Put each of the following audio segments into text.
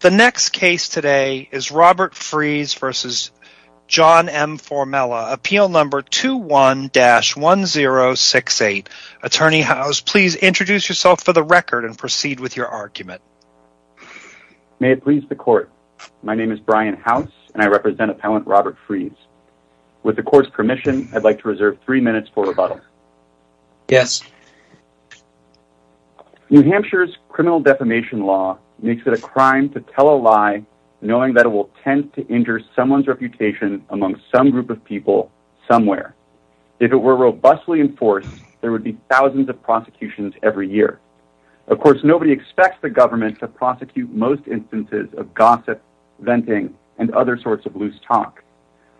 The next case today is Robert Frese v. John M. Formella, Appeal No. 21-1068. Attorney House, please introduce yourself for the record and proceed with your argument. May it please the Court. My name is Brian House, and I represent Appellant Robert Frese. With the Court's permission, I'd like to reserve three minutes for rebuttal. Yes. New Hampshire's criminal defamation law makes it a crime to tell a lie knowing that it will tend to injure someone's reputation among some group of people somewhere. If it were robustly enforced, there would be thousands of prosecutions every year. Of course, nobody expects the government to prosecute most instances of gossip, venting, and other sorts of loose talk.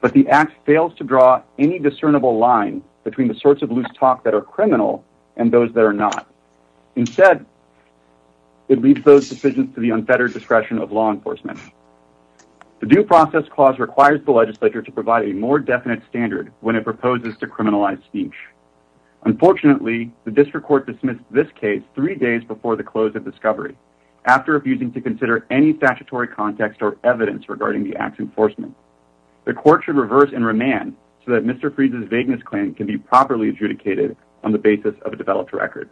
But the Act fails to draw any discernible line between the sorts of loose talk that are criminal and those that are not. Instead, it leaves those decisions to the unfettered discretion of law enforcement. The Due Process Clause requires the legislature to provide a more definite standard when it proposes to criminalize speech. Unfortunately, the District Court dismissed this case three days before the close of discovery, after abusing to consider any statutory context or evidence regarding the Act's enforcement. The Court should reverse and remand so that Mr. Frese's vagueness claim can be properly adjudicated on the basis of a developed record.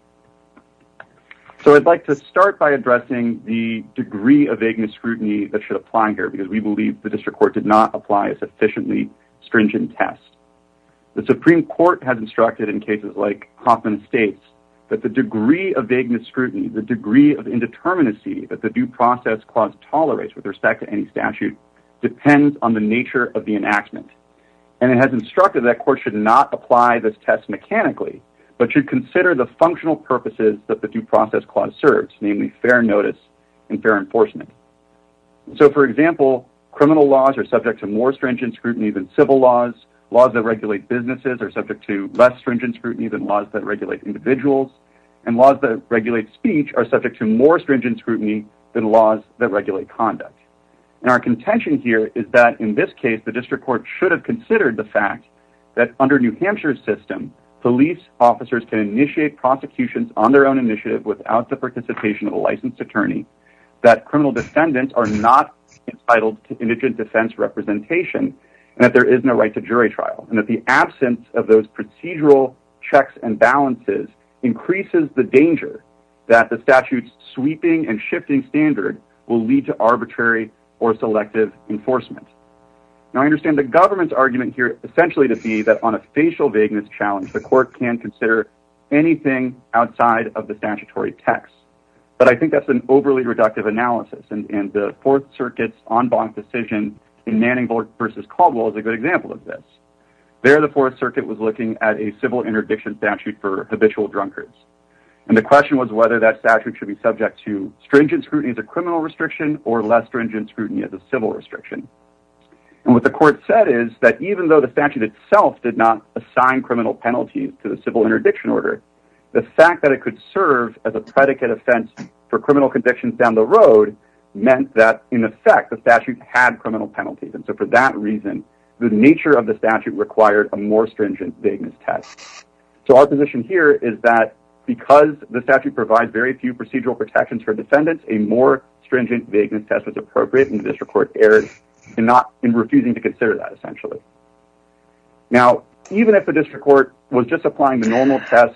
So I'd like to start by addressing the degree of vagueness scrutiny that should apply here, because we believe the District Court did not apply a sufficiently stringent test. The Supreme Court has instructed in cases like Hoffman State's that the degree of vagueness scrutiny, the degree of indeterminacy that the Due Process Clause tolerates with respect to any statute, depends on the nature of the enactment. And it has instructed that courts should not apply this test mechanically, but should consider the functional purposes that the Due Process Clause serves, namely fair notice and fair enforcement. So, for example, criminal laws are subject to more stringent scrutiny than civil laws. Laws that regulate businesses are subject to less stringent scrutiny than laws that regulate individuals. And laws that regulate speech are subject to more stringent scrutiny than laws that regulate conduct. And our contention here is that in this case, the District Court should have considered the fact that under New Hampshire's system, police officers can initiate prosecutions on their own initiative without the participation of a licensed attorney, that criminal defendants are not entitled to indigent defense representation, and that there is no right to jury trial, and that the absence of those procedural checks and balances increases the danger that the statute's sweeping and shifting standard will lead to arbitrary or selective enforcement. Now, I understand the government's argument here essentially to be that on a facial vagueness challenge, the court can consider anything outside of the statutory text. But I think that's an overly reductive analysis, and the Fourth Circuit's en banc decision in Manning v. Caldwell is a good example of this. There, the Fourth Circuit was looking at a civil interdiction statute for habitual drunkards. And the question was whether that statute should be subject to stringent scrutiny as a criminal restriction or less stringent scrutiny as a civil restriction. And what the court said is that even though the statute itself did not assign criminal penalties to the civil interdiction order, the fact that it could serve as a predicate offense for criminal convictions down the road meant that, in effect, the statute had criminal penalties. And so for that reason, the nature of the statute required a more stringent vagueness test. So our position here is that because the statute provides very few procedural protections for defendants, a more stringent vagueness test was appropriate, and the district court erred in refusing to consider that essentially. Now, even if the district court was just applying the normal test...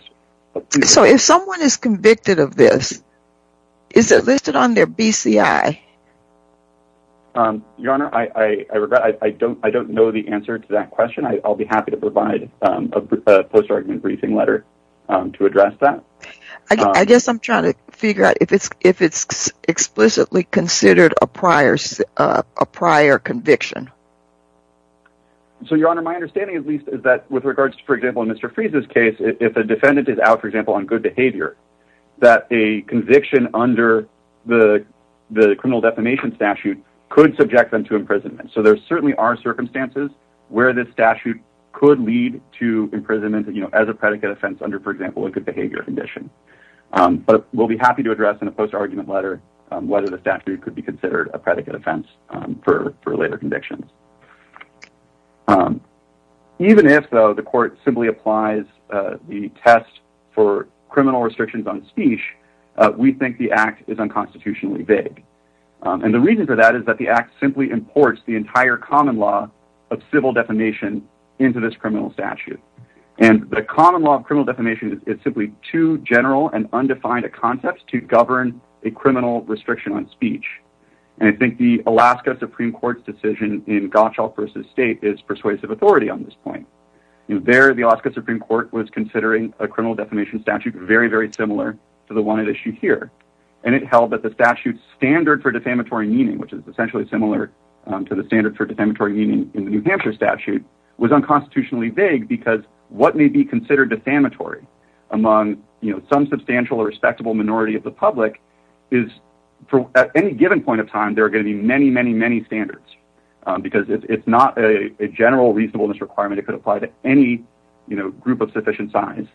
So if someone is convicted of this, is it listed on their BCI? Your Honor, I regret I don't know the answer to that question. I'll be happy to provide a post-argument briefing letter to address that. I guess I'm trying to figure out if it's explicitly considered a prior conviction. So, Your Honor, my understanding, at least, is that with regards to, for example, in Mr. Freeze's case, if a defendant is out, for example, on good behavior, that a conviction under the criminal defamation statute could subject them to imprisonment. So there certainly are circumstances where this statute could lead to imprisonment as a predicate offense under, for example, a good behavior condition. But we'll be happy to address in a post-argument letter whether the statute could be considered a predicate offense for later convictions. Even if, though, the court simply applies the test for criminal restrictions on speech, we think the act is unconstitutionally vague. And the reason for that is that the act simply imports the entire common law of civil defamation into this criminal statute. And the common law of criminal defamation is simply too general and undefined a concept to govern a criminal restriction on speech. And I think the Alaska Supreme Court's decision in Gottschall v. State is persuasive authority on this point. There, the Alaska Supreme Court was considering a criminal defamation statute very, very similar to the one at issue here. And it held that the statute's standard for defamatory meaning, which is essentially similar to the standard for defamatory meaning in the New Hampshire statute, was unconstitutionally vague because what may be considered defamatory among some substantial or respectable minority of the public is at any given point of time there are going to be many, many, many standards because it's not a general reasonableness requirement. It could apply to any group of sufficient size.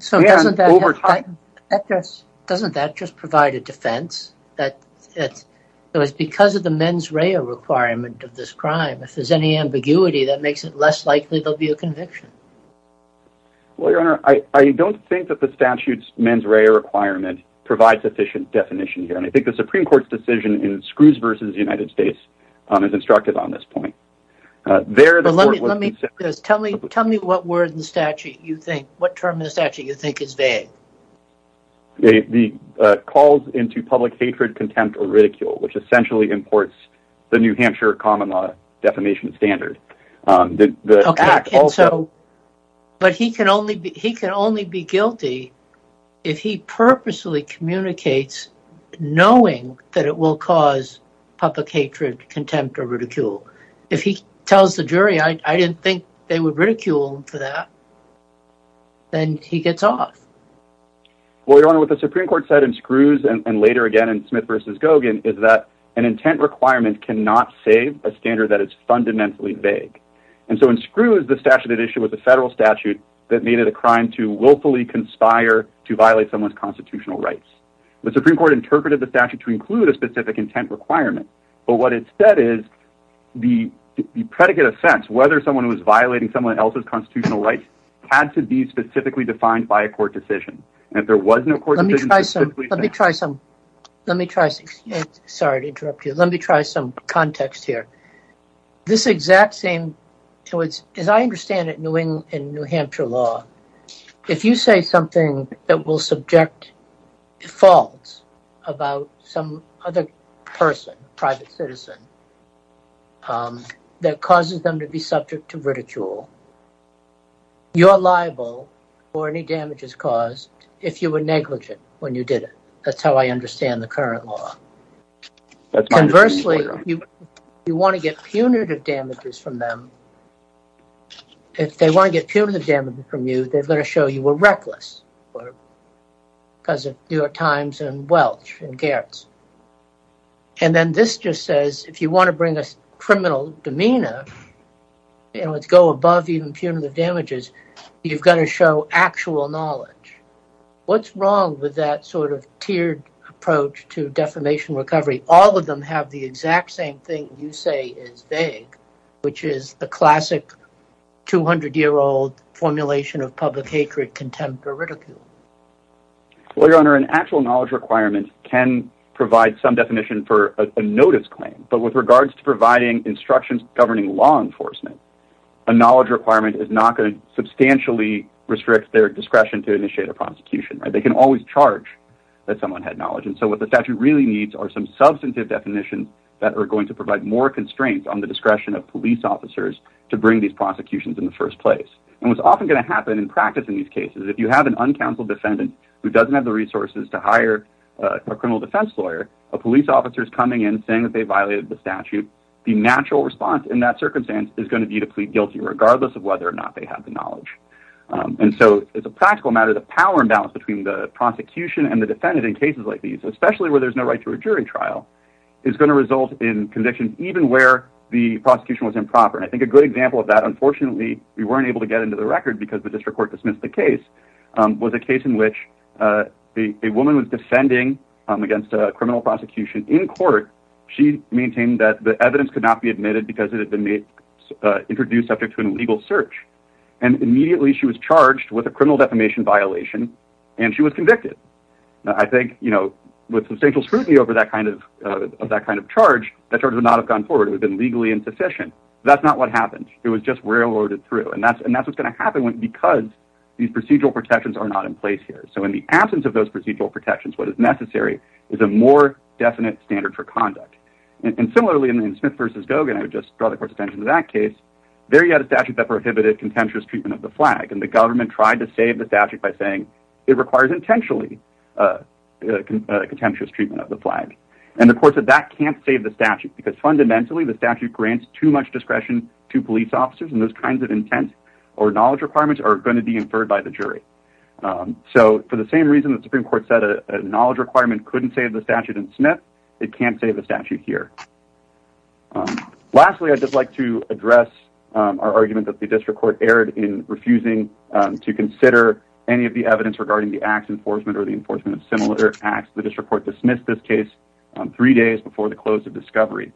So doesn't that just provide a defense that it's because of the mens rea requirement of this crime, if there's any ambiguity that makes it less likely there'll be a conviction? Well, Your Honor, I don't think that the statute's mens rea requirement provides sufficient definition here. And I think the Supreme Court's decision in Scrooge v. United States is instructive on this point. There, the court was considering- Tell me what word in the statute you think, what term in the statute you think is vague. The calls into public hatred, contempt, or ridicule, which essentially imports the New Hampshire common law defamation standard. But he can only be guilty if he purposely communicates knowing that it will cause public hatred, contempt, or ridicule. If he tells the jury, I didn't think they would ridicule for that, then he gets off. Well, Your Honor, what the Supreme Court said in Scrooge and later again in Smith v. Gogan is that an intent requirement cannot save a standard that is fundamentally vague. And so in Scrooge, the statute at issue was a federal statute that made it a crime to willfully conspire to violate someone's constitutional rights. The Supreme Court interpreted the statute to include a specific intent requirement, but what it said is the predicate offense, whether someone was violating someone else's constitutional rights, had to be specifically defined by a court decision. Let me try some context here. This exact same, as I understand it in New Hampshire law, if you say something that will subject faults about some other person, private citizen, that causes them to be subject to ridicule, you're liable for any damages caused if you were negligent when you did it. That's how I understand the current law. Conversely, if you want to get punitive damages from them, if they want to get punitive damages from you, they're going to show you were reckless because of New York Times and Welch and Gerrits. And then this just says, if you want to bring a criminal demeanor, if you want to go above even punitive damages, you've got to show actual knowledge. What's wrong with that sort of tiered approach to defamation recovery? All of them have the exact same thing you say is vague, which is the classic 200-year-old formulation of public hatred, contempt, or ridicule. Well, Your Honor, an actual knowledge requirement can provide some definition for a notice claim, but with regards to providing instructions governing law enforcement, a knowledge requirement is not going to substantially restrict their discretion to initiate a prosecution. They can always charge that someone had knowledge. And so what the statute really needs are some substantive definitions that are going to provide more constraints on the discretion of police officers to bring these prosecutions in the first place. And what's often going to happen in practice in these cases, if you have an uncounseled defendant who doesn't have the resources to hire a criminal defense lawyer, a police officer is coming in saying that they violated the statute, the natural response in that circumstance is going to be to plead guilty, regardless of whether or not they have the knowledge. And so, as a practical matter, the power imbalance between the prosecution and the defendant in cases like these, especially where there's no right to a jury trial, is going to result in convictions even where the prosecution was improper. And I think a good example of that, unfortunately, we weren't able to get into the record because the district court dismissed the case, was a case in which a woman was defending against a criminal prosecution in court. She maintained that the evidence could not be admitted because it had been introduced subject to an illegal search. And immediately she was charged with a criminal defamation violation, and she was convicted. I think, you know, with substantial scrutiny of that kind of charge, that charge would not have gone forward. It would have been legally insufficient. That's not what happened. It was just railroaded through. And that's what's going to happen because these procedural protections are not in place here. So in the absence of those procedural protections, what is necessary is a more definite standard for conduct. And similarly, in Smith v. Gogan, I would just draw the court's attention to that case, there you had a statute that prohibited contemptuous treatment of the flag, and the government tried to save the statute by saying, it requires intentionally contemptuous treatment of the flag. And the court said that can't save the statute because fundamentally the statute grants too much discretion to police officers and those kinds of intent or knowledge requirements are going to be inferred by the jury. So for the same reason the Supreme Court said a knowledge requirement couldn't save the statute in Smith, it can't save the statute here. Lastly, I'd just like to address our argument that the district court erred in refusing to consider any of the evidence regarding the acts enforcement or the enforcement of similar acts. The district court dismissed this case three days before the close of discovery.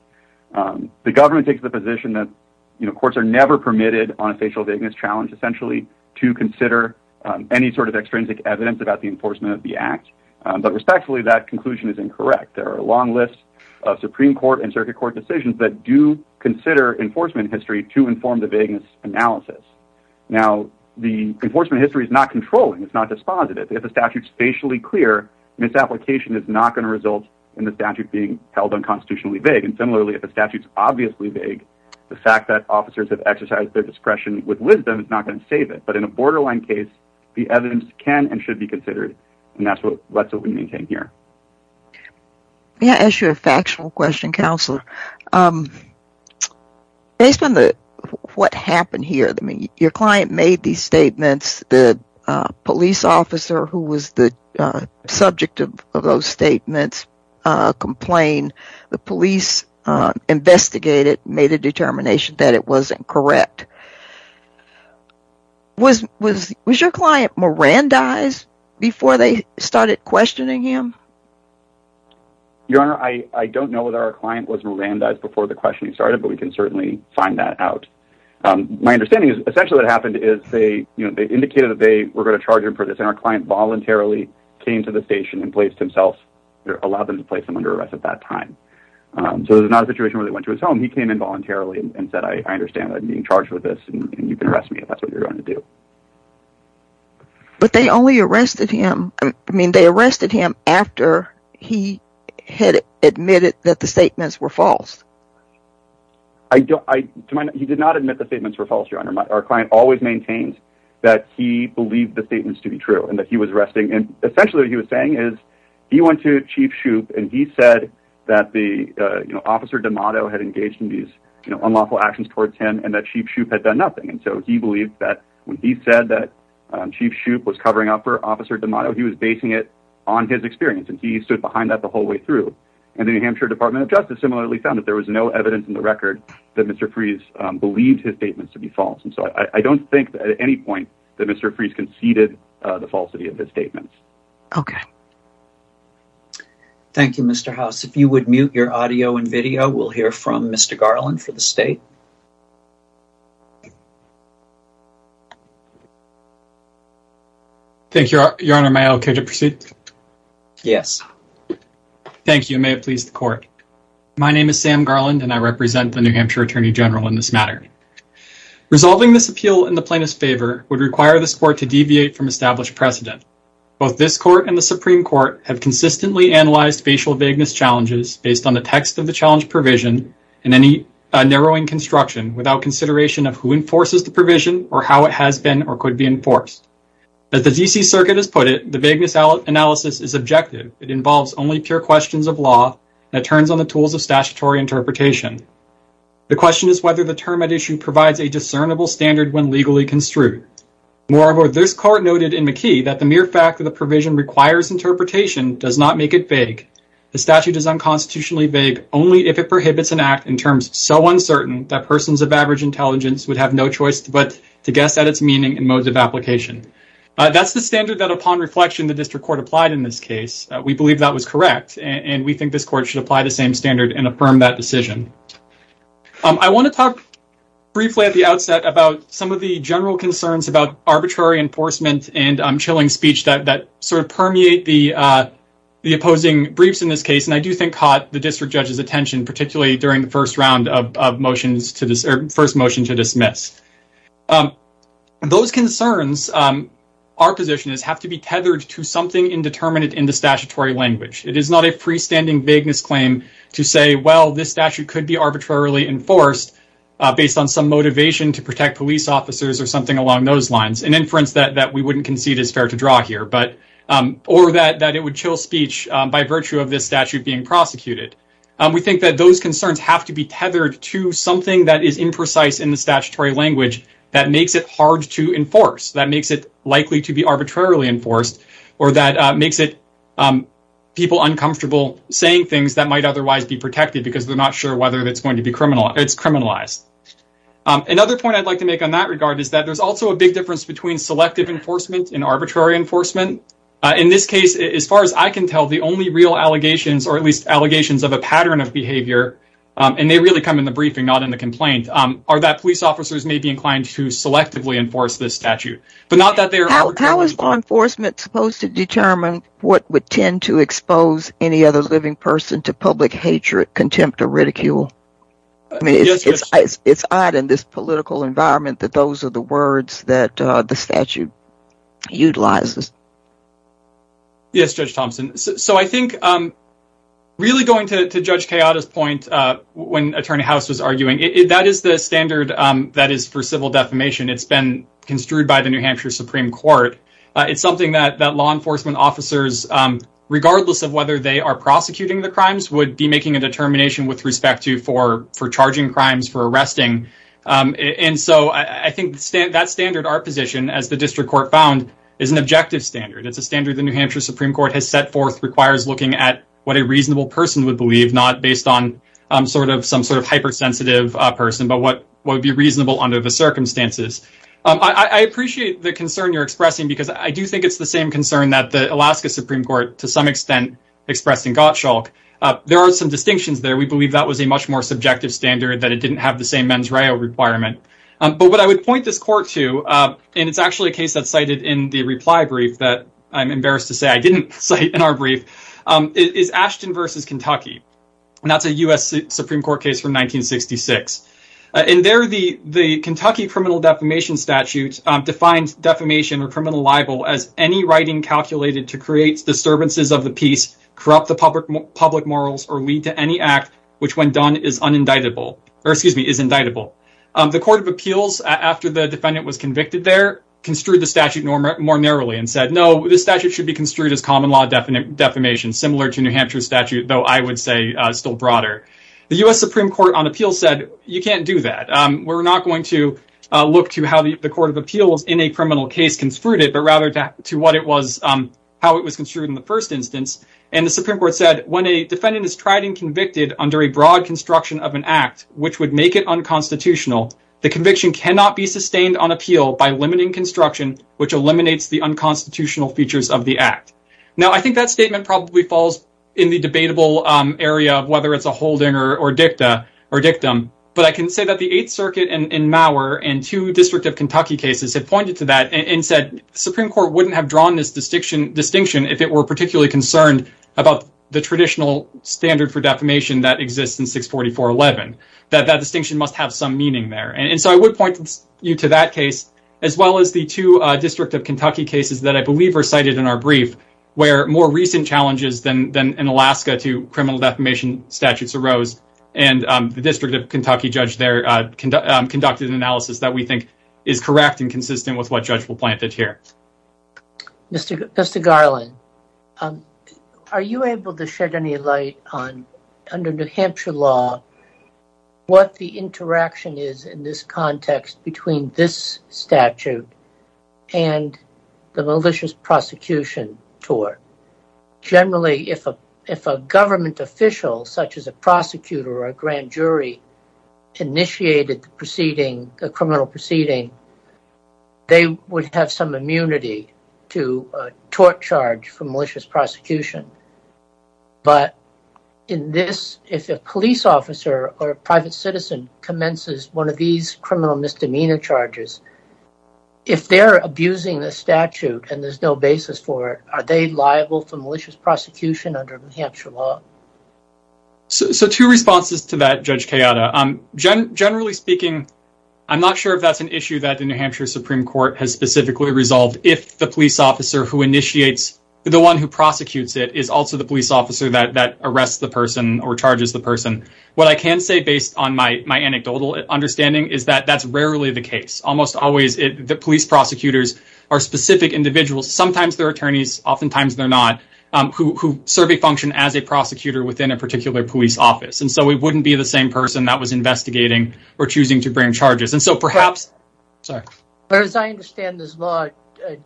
The government takes the position that courts are never permitted on a facial vagueness challenge, essentially, to consider any sort of extrinsic evidence about the enforcement of the act. But respectfully, that conclusion is incorrect. There are a long list of Supreme Court and circuit court decisions that do consider enforcement history to inform the vagueness analysis. Now, the enforcement history is not controlling, it's not dispositive. If the statute is facially clear, misapplication is not going to result in the statute being held unconstitutionally vague. And similarly, if the statute is obviously vague, the fact that officers have exercised their discretion with wisdom is not going to save it. But in a borderline case, the evidence can and should be considered. And that's what we maintain here. May I ask you a factual question, Counselor? Based on what happened here, your client made these statements. The police officer who was the subject of those statements complained. The police investigated, made a determination that it wasn't correct. Was your client Mirandized before they started questioning him? Your Honor, I don't know whether our client was Mirandized before the questioning started, but we can certainly find that out. My understanding is essentially what happened is they indicated that they were going to charge him for this, and our client voluntarily came to the station and placed himself, allowed them to place him under arrest at that time. So it was not a situation where they went to his home. He came in voluntarily and said, I understand that I'm being charged with this, and you can arrest me if that's what you're going to do. But they only arrested him, I mean, they arrested him after he had admitted that the statements were false. He did not admit the statements were false, Your Honor. Our client always maintains that he believed the statements to be true and that he was arresting him. Essentially what he was saying is he went to Chief Shoup, and he said that Officer D'Amato had engaged in these unlawful actions towards him and that Chief Shoup had done nothing. And so he believed that when he said that Chief Shoup was covering up for Officer D'Amato, he was basing it on his experience, and he stood behind that the whole way through. And the New Hampshire Department of Justice similarly found that there was no evidence in the record that Mr. Fries believed his statements to be false. And so I don't think at any point that Mr. Fries conceded the falsity of his statements. Okay. Thank you, Mr. House. If you would mute your audio and video, we'll hear from Mr. Garland for the state. Thank you, Your Honor. May I proceed? Yes. Thank you. May it please the court. My name is Sam Garland, and I represent the New Hampshire Attorney General in this matter. Resolving this appeal in the plaintiff's favor would require this court to deviate from established precedent. Both this court and the Supreme Court have consistently analyzed facial vagueness challenges based on the text of the challenge provision and any narrowing construction without consideration of who enforces the provision or how it has been or could be enforced. As the D.C. Circuit has put it, the vagueness analysis is objective. It involves only pure questions of law, and it turns on the tools of statutory interpretation. The question is whether the term at issue provides a discernible standard when legally construed. Moreover, this court noted in McKee that the mere fact that the provision requires interpretation does not make it vague. The statute is unconstitutionally vague only if it prohibits an act in terms so uncertain that persons of average intelligence would have no choice but to guess at its meaning in modes of application. That's the standard that, upon reflection, the district court applied in this case. We believe that was correct, and we think this court should apply the same standard and affirm that decision. I want to talk briefly at the outset about some of the general concerns about arbitrary enforcement and chilling speech that sort of permeate the opposing briefs in this case, and I do think caught the district judge's attention, particularly during the first round of motions or first motion to dismiss. Those concerns, our position is, have to be tethered to something indeterminate in the statutory language. It is not a freestanding vagueness claim to say, well, this statute could be arbitrarily enforced based on some motivation to protect police officers or something along those lines, an inference that we wouldn't concede is fair to draw here, or that it would chill speech by virtue of this statute being prosecuted. We think that those concerns have to be tethered to something that is imprecise in the statutory language that makes it hard to enforce, that makes it likely to be arbitrarily enforced, or that makes it people uncomfortable saying things that might otherwise be protected because they're not sure whether it's going to be criminalized. Another point I'd like to make on that regard is that there's also a big difference between selective enforcement and arbitrary enforcement. In this case, as far as I can tell, the only real allegations, or at least allegations of a pattern of behavior, and they really come in the briefing, not in the complaint, are that police officers may be inclined to selectively enforce this statute. How is law enforcement supposed to determine what would tend to expose any other living person to public hatred, contempt, or ridicule? I mean, it's odd in this political environment that those are the words that the statute utilizes. Yes, Judge Thompson. So I think really going to Judge Kayada's point when Attorney House was arguing, that is the standard that is for civil defamation. It's been construed by the New Hampshire Supreme Court. It's something that law enforcement officers, regardless of whether they are prosecuting the crimes, would be making a determination with respect to for charging crimes, for arresting. And so I think that standard, our position, as the district court found, is an objective standard. It's a standard the New Hampshire Supreme Court has set forth, requires looking at what a reasonable person would believe, not based on some sort of hypersensitive person, but what would be reasonable under the circumstances. I appreciate the concern you're expressing, because I do think it's the same concern that the Alaska Supreme Court, to some extent, expressed in Gottschalk. There are some distinctions there. We believe that was a much more subjective standard, that it didn't have the same mens reo requirement. But what I would point this court to, and it's actually a case that's cited in the reply brief that I'm embarrassed to say I didn't cite in our brief, is Ashton v. Kentucky. And that's a U.S. Supreme Court case from 1966. In there, the Kentucky criminal defamation statute defines defamation or criminal libel as any writing calculated to create disturbances of the peace, corrupt the public morals, or lead to any act which, when done, is indictable. The Court of Appeals, after the defendant was convicted there, construed the statute more narrowly and said, no, this statute should be construed as common law defamation, similar to New Hampshire's statute, though I would say still broader. The U.S. Supreme Court on Appeals said, you can't do that. We're not going to look to how the Court of Appeals in a criminal case construed it, but rather to what it was, how it was construed in the first instance. And the Supreme Court said, when a defendant is tried and convicted under a broad construction of an act, which would make it unconstitutional, the conviction cannot be sustained on appeal by limiting construction, which eliminates the unconstitutional features of the act. Now, I think that statement probably falls in the debatable area of whether it's a holding or dictum. But I can say that the Eighth Circuit and Maurer and two District of Kentucky cases have pointed to that and said, Supreme Court wouldn't have drawn this distinction if it were particularly concerned about the traditional standard for defamation that exists in 644-11. That that distinction must have some meaning there. And so I would point you to that case, as well as the two District of Kentucky cases that I believe are cited in our brief, where more recent challenges than in Alaska to criminal defamation statutes arose. And the District of Kentucky judge there conducted an analysis that we think is correct and consistent with what judge will plant it here. Mr. Garland, are you able to shed any light on, under New Hampshire law, what the interaction is in this context between this statute and the malicious prosecution tour? Generally, if a government official, such as a prosecutor or a grand jury, initiated the criminal proceeding, they would have some immunity to a tort charge for malicious prosecution. But in this, if a police officer or a private citizen commences one of these criminal misdemeanor charges, if they're abusing the statute and there's no basis for it, are they liable for malicious prosecution under New Hampshire law? So two responses to that, Judge Kayada. Generally speaking, I'm not sure if that's an issue that the New Hampshire Supreme Court has specifically resolved. If the police officer who initiates the one who prosecutes it is also the police officer that arrests the person or charges the person. What I can say, based on my anecdotal understanding, is that that's rarely the case. Almost always the police prosecutors are specific individuals. Sometimes they're attorneys, oftentimes they're not, who serve a function as a prosecutor within a particular police office. And so we wouldn't be the same person that was investigating or choosing to bring charges. And so perhaps, sorry. But as I understand this law,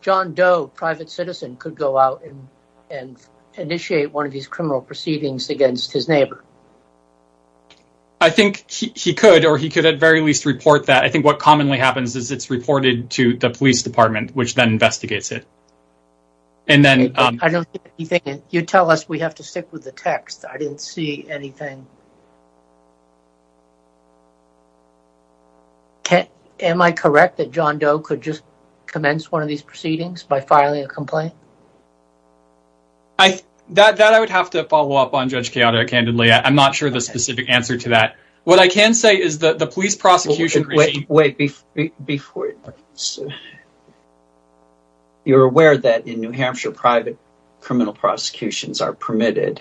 John Doe, private citizen, could go out and initiate one of these criminal proceedings against his neighbor. I think he could, or he could at very least report that. I think what commonly happens is it's reported to the police department, which then investigates it. I don't see anything. You tell us we have to stick with the text. I didn't see anything. Am I correct that John Doe could just commence one of these proceedings by filing a complaint? That I would have to follow up on, Judge Kayada, candidly. I'm not sure the specific answer to that. What I can say is that the police prosecution. Wait, before. You're aware that in New Hampshire, private criminal prosecutions are permitted.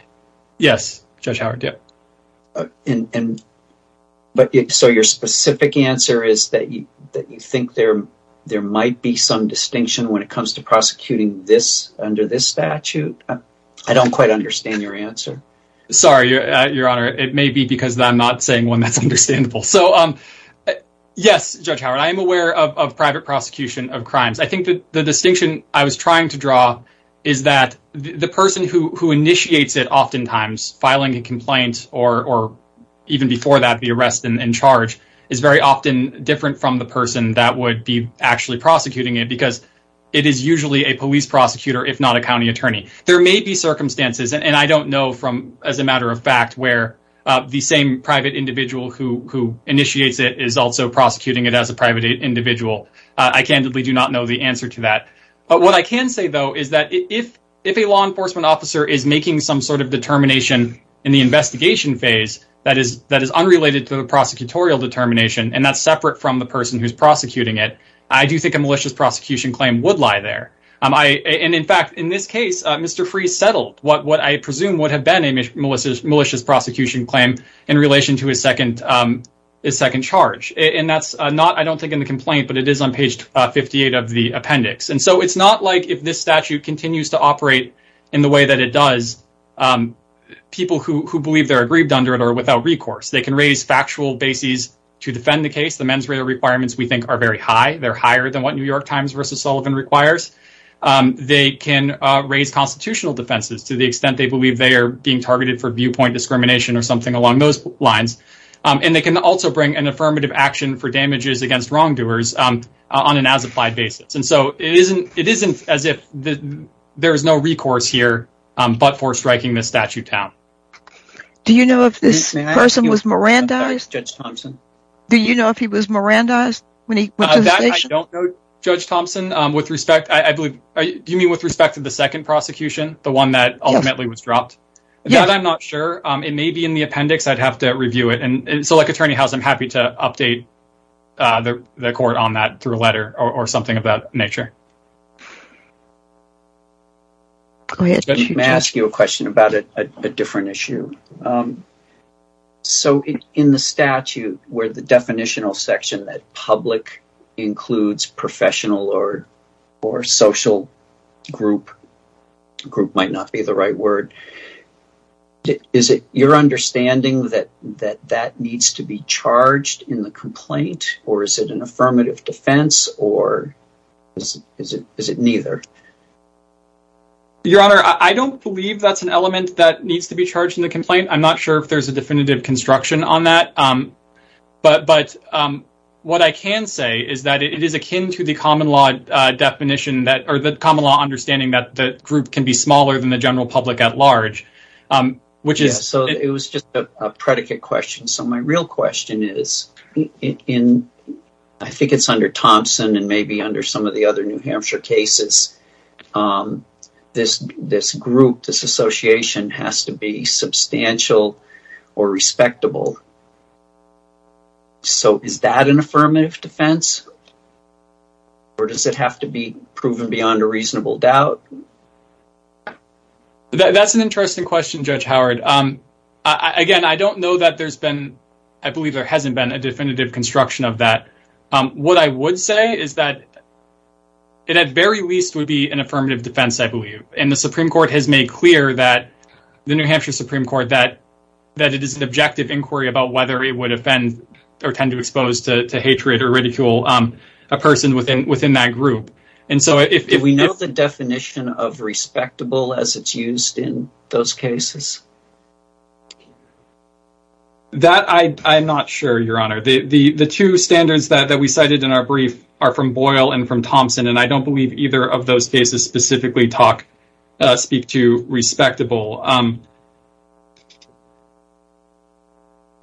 Yes, Judge Howard. So your specific answer is that you think there might be some distinction when it comes to prosecuting this under this statute? I don't quite understand your answer. Sorry, Your Honor. It may be because I'm not saying one that's understandable. So, yes, Judge Howard, I am aware of private prosecution of crimes. I think that the distinction I was trying to draw is that the person who initiates it oftentimes filing a complaint or even before that the arrest and charge is very often different from the person that would be actually prosecuting it because it is usually a police prosecutor, if not a county attorney. There may be circumstances, and I don't know, as a matter of fact, where the same private individual who initiates it is also prosecuting it as a private individual. I candidly do not know the answer to that. But what I can say, though, is that if a law enforcement officer is making some sort of determination in the investigation phase that is unrelated to the prosecutorial determination, and that's separate from the person who's prosecuting it, I do think a malicious prosecution claim would lie there. And, in fact, in this case, Mr. Freese settled what I presume would have been a malicious prosecution claim in relation to his second charge. And that's not, I don't think, in the complaint, but it is on page 58 of the appendix. And so it's not like if this statute continues to operate in the way that it does, people who believe they're aggrieved under it are without recourse. They can raise factual bases to defend the case. The mens rea requirements, we think, are very high. They're higher than what New York Times v. Sullivan requires. They can raise constitutional defenses to the extent they believe they are being targeted for viewpoint discrimination or something along those lines. And they can also bring an affirmative action for damages against wrongdoers on an as-applied basis. And so it isn't as if there is no recourse here but for striking this statute down. Do you know if this person was Mirandized? Judge Thompson. Do you know if he was Mirandized when he went to the station? That I don't know, Judge Thompson. With respect, I believe, do you mean with respect to the second prosecution, the one that ultimately was dropped? Yes. That I'm not sure. It may be in the appendix. I'd have to review it. And so, like, Attorney House, I'm happy to update the court on that through a letter or something of that nature. Go ahead. Let me ask you a question about a different issue. So in the statute where the definitional section that public includes professional or social group, group might not be the right word, is it your understanding that that needs to be charged in the complaint or is it an affirmative defense or is it neither? Your Honor, I don't believe that's an element that needs to be charged in the complaint. I'm not sure if there's a definitive construction on that. But what I can say is that it is akin to the common law definition or the common law understanding that the group can be smaller than the general public at large. So it was just a predicate question. So my real question is, I think it's under Thompson and maybe under some of the other New Hampshire cases, this group, this association has to be substantial or respectable. So is that an affirmative defense or does it have to be proven beyond a reasonable doubt? That's an interesting question, Judge Howard. Again, I don't know that there's been, I believe there hasn't been a definitive construction of that. What I would say is that it at very least would be an affirmative defense, I believe. And the Supreme Court has made clear that, the New Hampshire Supreme Court, that it is an objective inquiry about whether it would offend or tend to expose to hatred or ridicule a person within that group. Do we know the definition of respectable as it's used in those cases? I'm not sure, Your Honor. The two standards that we cited in our brief are from Boyle and from Thompson. And I don't believe either of those cases specifically speak to respectable.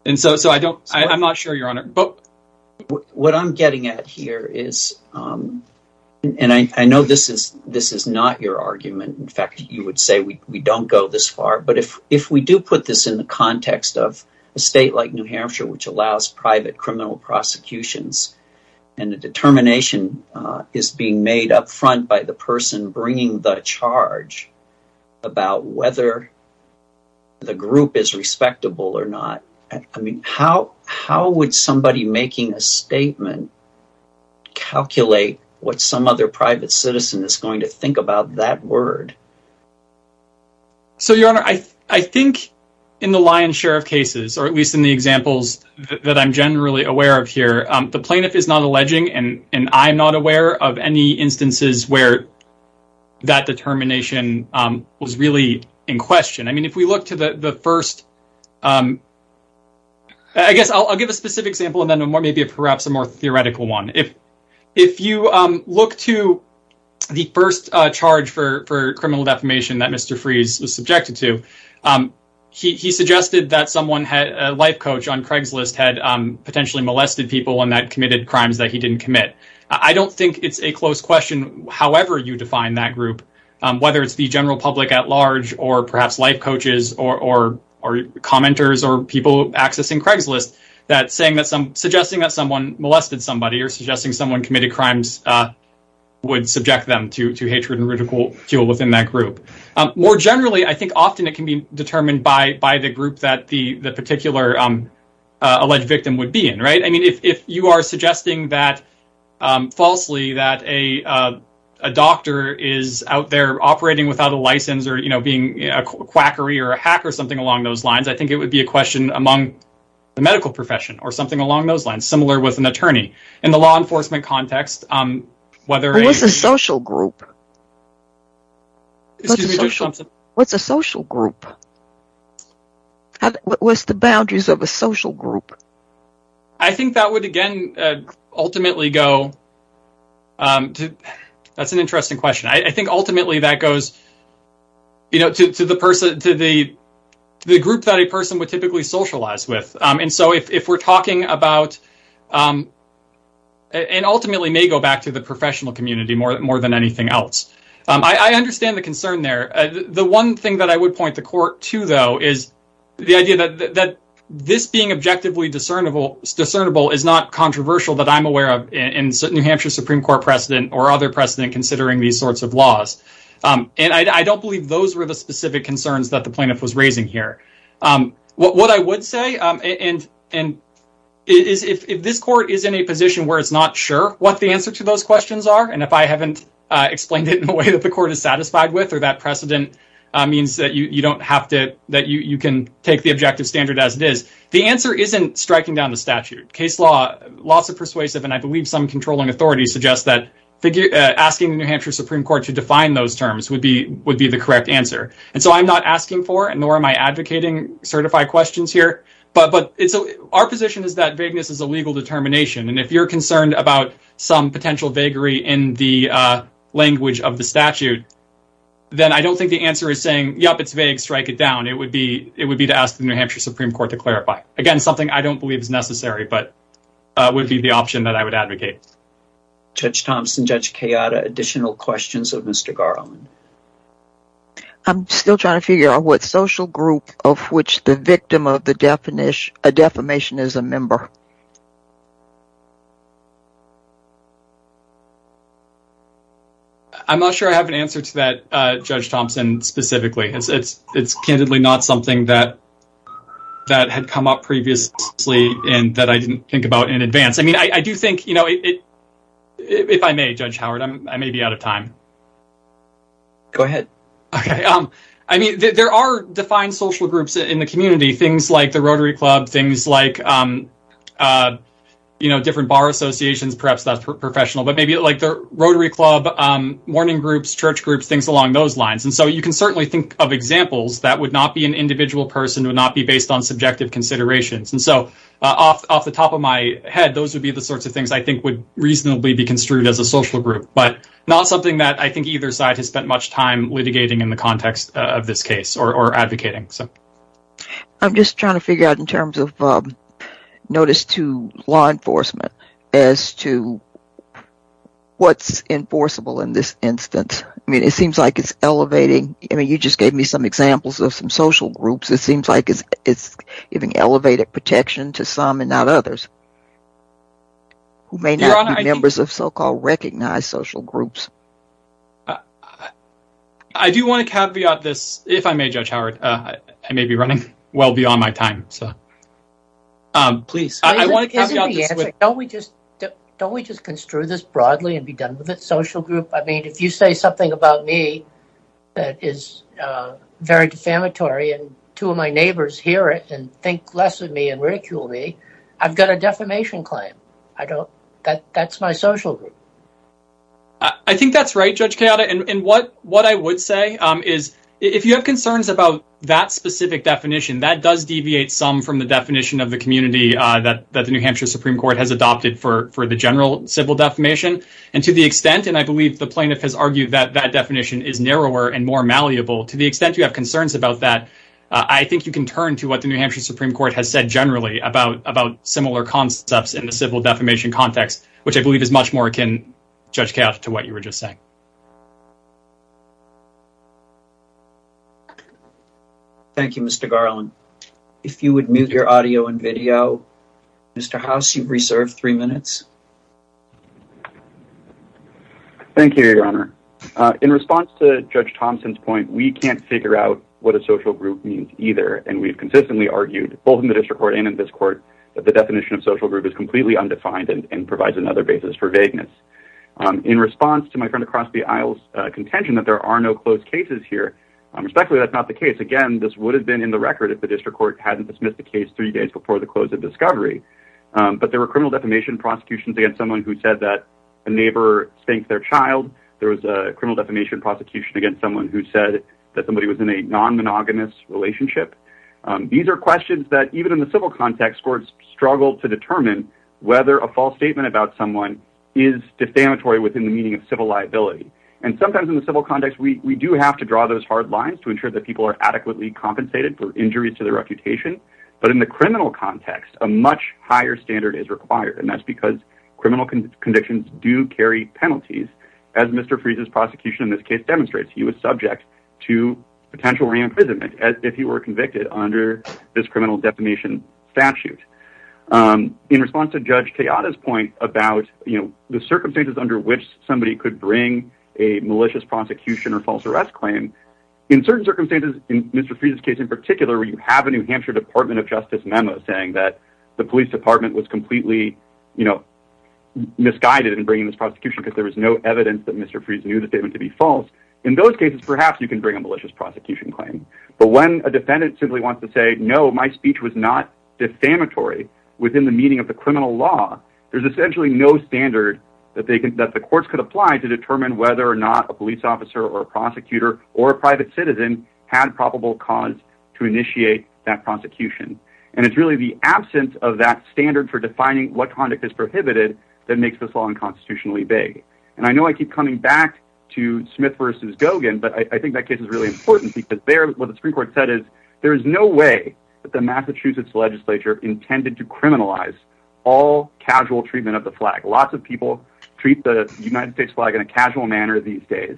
And so I don't, I'm not sure, Your Honor. What I'm getting at here is, and I know this is not your argument. In fact, you would say we don't go this far. But if we do put this in the context of a state like New Hampshire, which allows private criminal prosecutions, and the determination is being made up front by the person bringing the charge about whether the group is respectable or not. I mean, how would somebody making a statement calculate what some other private citizen is going to think about that word? So, Your Honor, I think in the lion's share of cases, or at least in the examples that I'm generally aware of here, the plaintiff is not alleging and I'm not aware of any instances where that determination was really in question. I mean, if we look to the first, I guess I'll give a specific example and then maybe perhaps a more theoretical one. If you look to the first charge for criminal defamation that Mr. Freese was subjected to, he suggested that someone, a life coach on Craigslist, had potentially molested people and that committed crimes that he didn't commit. I don't think it's a close question, however you define that group, whether it's the general public at large or perhaps life coaches or commenters or people accessing Craigslist, that suggesting that someone molested somebody or suggesting someone committed crimes would subject them to hatred and ridicule within that group. More generally, I think often it can be determined by the group that the particular alleged victim would be in. I mean, if you are suggesting that, falsely, that a doctor is out there operating without a license or being a quackery or a hack or something along those lines, I think it would be a question among the medical profession or something along those lines, similar with an attorney. In the law enforcement context, whether a... What's a social group? Excuse me, Judge Thompson. What's a social group? What's the boundaries of a social group? I think that would, again, ultimately go... That's an interesting question. I think ultimately that goes to the group that a person would typically socialize with. And so if we're talking about... And ultimately may go back to the professional community more than anything else. I understand the concern there. The one thing that I would point the court to, though, is the idea that this being objectively discernible is not controversial that I'm aware of in certain New Hampshire Supreme Court precedent or other precedent considering these sorts of laws. And I don't believe those were the specific concerns that the plaintiff was raising here. What I would say, and if this court is in a position where it's not sure what the answer to those questions are, and if I haven't explained it in a way that the court is satisfied with or that precedent means that you don't have to... That you can take the objective standard as it is. The answer isn't striking down the statute. Case law, lots of persuasive, and I believe some controlling authority suggests that asking the New Hampshire Supreme Court to define those terms would be the correct answer. And so I'm not asking for, nor am I advocating certified questions here. But our position is that vagueness is a legal determination. And if you're concerned about some potential vagary in the language of the statute, then I don't think the answer is saying, yep, it's vague, strike it down. It would be to ask the New Hampshire Supreme Court to clarify. Again, something I don't believe is necessary, but would be the option that I would advocate. Judge Thompson, Judge Kayada, additional questions of Mr. Garland? I'm still trying to figure out what social group of which the victim of the defamation is a member. I'm not sure I have an answer to that, Judge Thompson, specifically. It's candidly not something that had come up previously and that I didn't think about in advance. I mean, I do think, you know, if I may, Judge Howard, I may be out of time. Go ahead. I mean, there are defined social groups in the community, things like the Rotary Club, things like, you know, different bar associations, perhaps that's professional. But maybe like the Rotary Club, mourning groups, church groups, things along those lines. And so you can certainly think of examples that would not be an individual person, would not be based on subjective considerations. And so off the top of my head, those would be the sorts of things I think would reasonably be construed as a social group, but not something that I think either side has spent much time litigating in the context of this case or advocating. I'm just trying to figure out in terms of notice to law enforcement as to what's enforceable in this instance. I mean, it seems like it's elevating. I mean, you just gave me some examples of some social groups. It seems like it's giving elevated protection to some and not others who may not be members of so-called recognized social groups. I do want to caveat this, if I may, Judge Howard. I may be running well beyond my time. Please. Isn't the answer, don't we just construe this broadly and be done with it, social group? I mean, if you say something about me that is very defamatory and two of my neighbors hear it and think less of me and ridicule me, I've got a defamation claim. I don't. That's my social group. I think that's right, Judge Kayada. And what I would say is if you have concerns about that specific definition, that does deviate some from the definition of the community that the New Hampshire Supreme Court has adopted for the general civil defamation. And to the extent, and I believe the plaintiff has argued that that definition is narrower and more malleable to the extent you have concerns about that. I think you can turn to what the New Hampshire Supreme Court has said generally about about similar concepts in the civil defamation context, which I believe is much more akin, Judge Kayada, to what you were just saying. Thank you, Mr. Garland. If you would mute your audio and video, Mr. House, you've reserved three minutes. Thank you, Your Honor. In response to Judge Thompson's point, we can't figure out what a social group means either. And we've consistently argued both in the district court and in this court that the definition of social group is completely undefined and provides another basis for vagueness. In response to my friend across the aisle's contention that there are no closed cases here, respectfully, that's not the case. Again, this would have been in the record if the district court hadn't dismissed the case three days before the close of discovery. But there were criminal defamation prosecutions against someone who said that a neighbor spanked their child. There was a criminal defamation prosecution against someone who said that somebody was in a non-monogamous relationship. These are questions that even in the civil context courts struggle to determine whether a false statement about someone is defamatory within the meaning of civil liability. And sometimes in the civil context, we do have to draw those hard lines to ensure that people are adequately compensated for injuries to their reputation. But in the criminal context, a much higher standard is required, and that's because criminal convictions do carry penalties. As Mr. Freese's prosecution in this case demonstrates, he was subject to potential re-imprisonment if he were convicted under this criminal defamation statute. In response to Judge Tejada's point about the circumstances under which somebody could bring a malicious prosecution or false arrest claim, in certain circumstances, in Mr. Freese's case in particular, where you have a New Hampshire Department of Justice memo saying that the police department was completely misguided in bringing this prosecution because there was no evidence that Mr. Freese knew the statement to be false, in those cases, perhaps you can bring a malicious prosecution claim. But when a defendant simply wants to say, no, my speech was not defamatory within the meaning of the criminal law, there's essentially no standard that the courts could apply to determine whether or not a police officer or a prosecutor or a private citizen had probable cause to initiate that prosecution. And it's really the absence of that standard for defining what conduct is prohibited that makes this law unconstitutionally vague. And I know I keep coming back to Smith v. Gogan, but I think that case is really important because there, what the Supreme Court said is, there is no way that the Massachusetts legislature intended to criminalize all casual treatment of the flag. Lots of people treat the United States flag in a casual manner these days.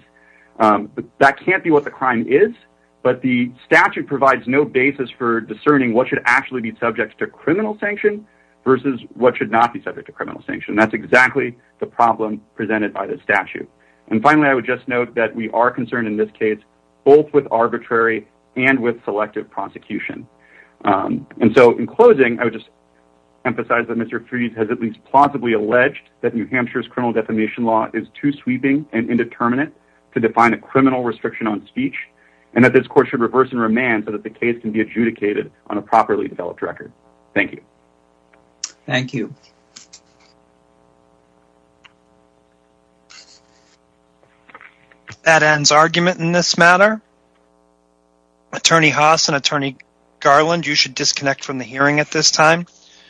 That can't be what the crime is, but the statute provides no basis for discerning what should actually be subject to criminal sanction versus what should not be subject to criminal sanction. That's exactly the problem presented by the statute. And finally, I would just note that we are concerned in this case both with arbitrary and with selective prosecution. And so in closing, I would just emphasize that Mr. Fries has at least plausibly alleged that New Hampshire's criminal defamation law is too sweeping and indeterminate to define a criminal restriction on speech, and that this court should reverse and remand so that the case can be adjudicated on a properly developed record. Thank you. Thank you. That ends argument in this matter. Attorney Haas and Attorney Garland, you should disconnect from the hearing at this time.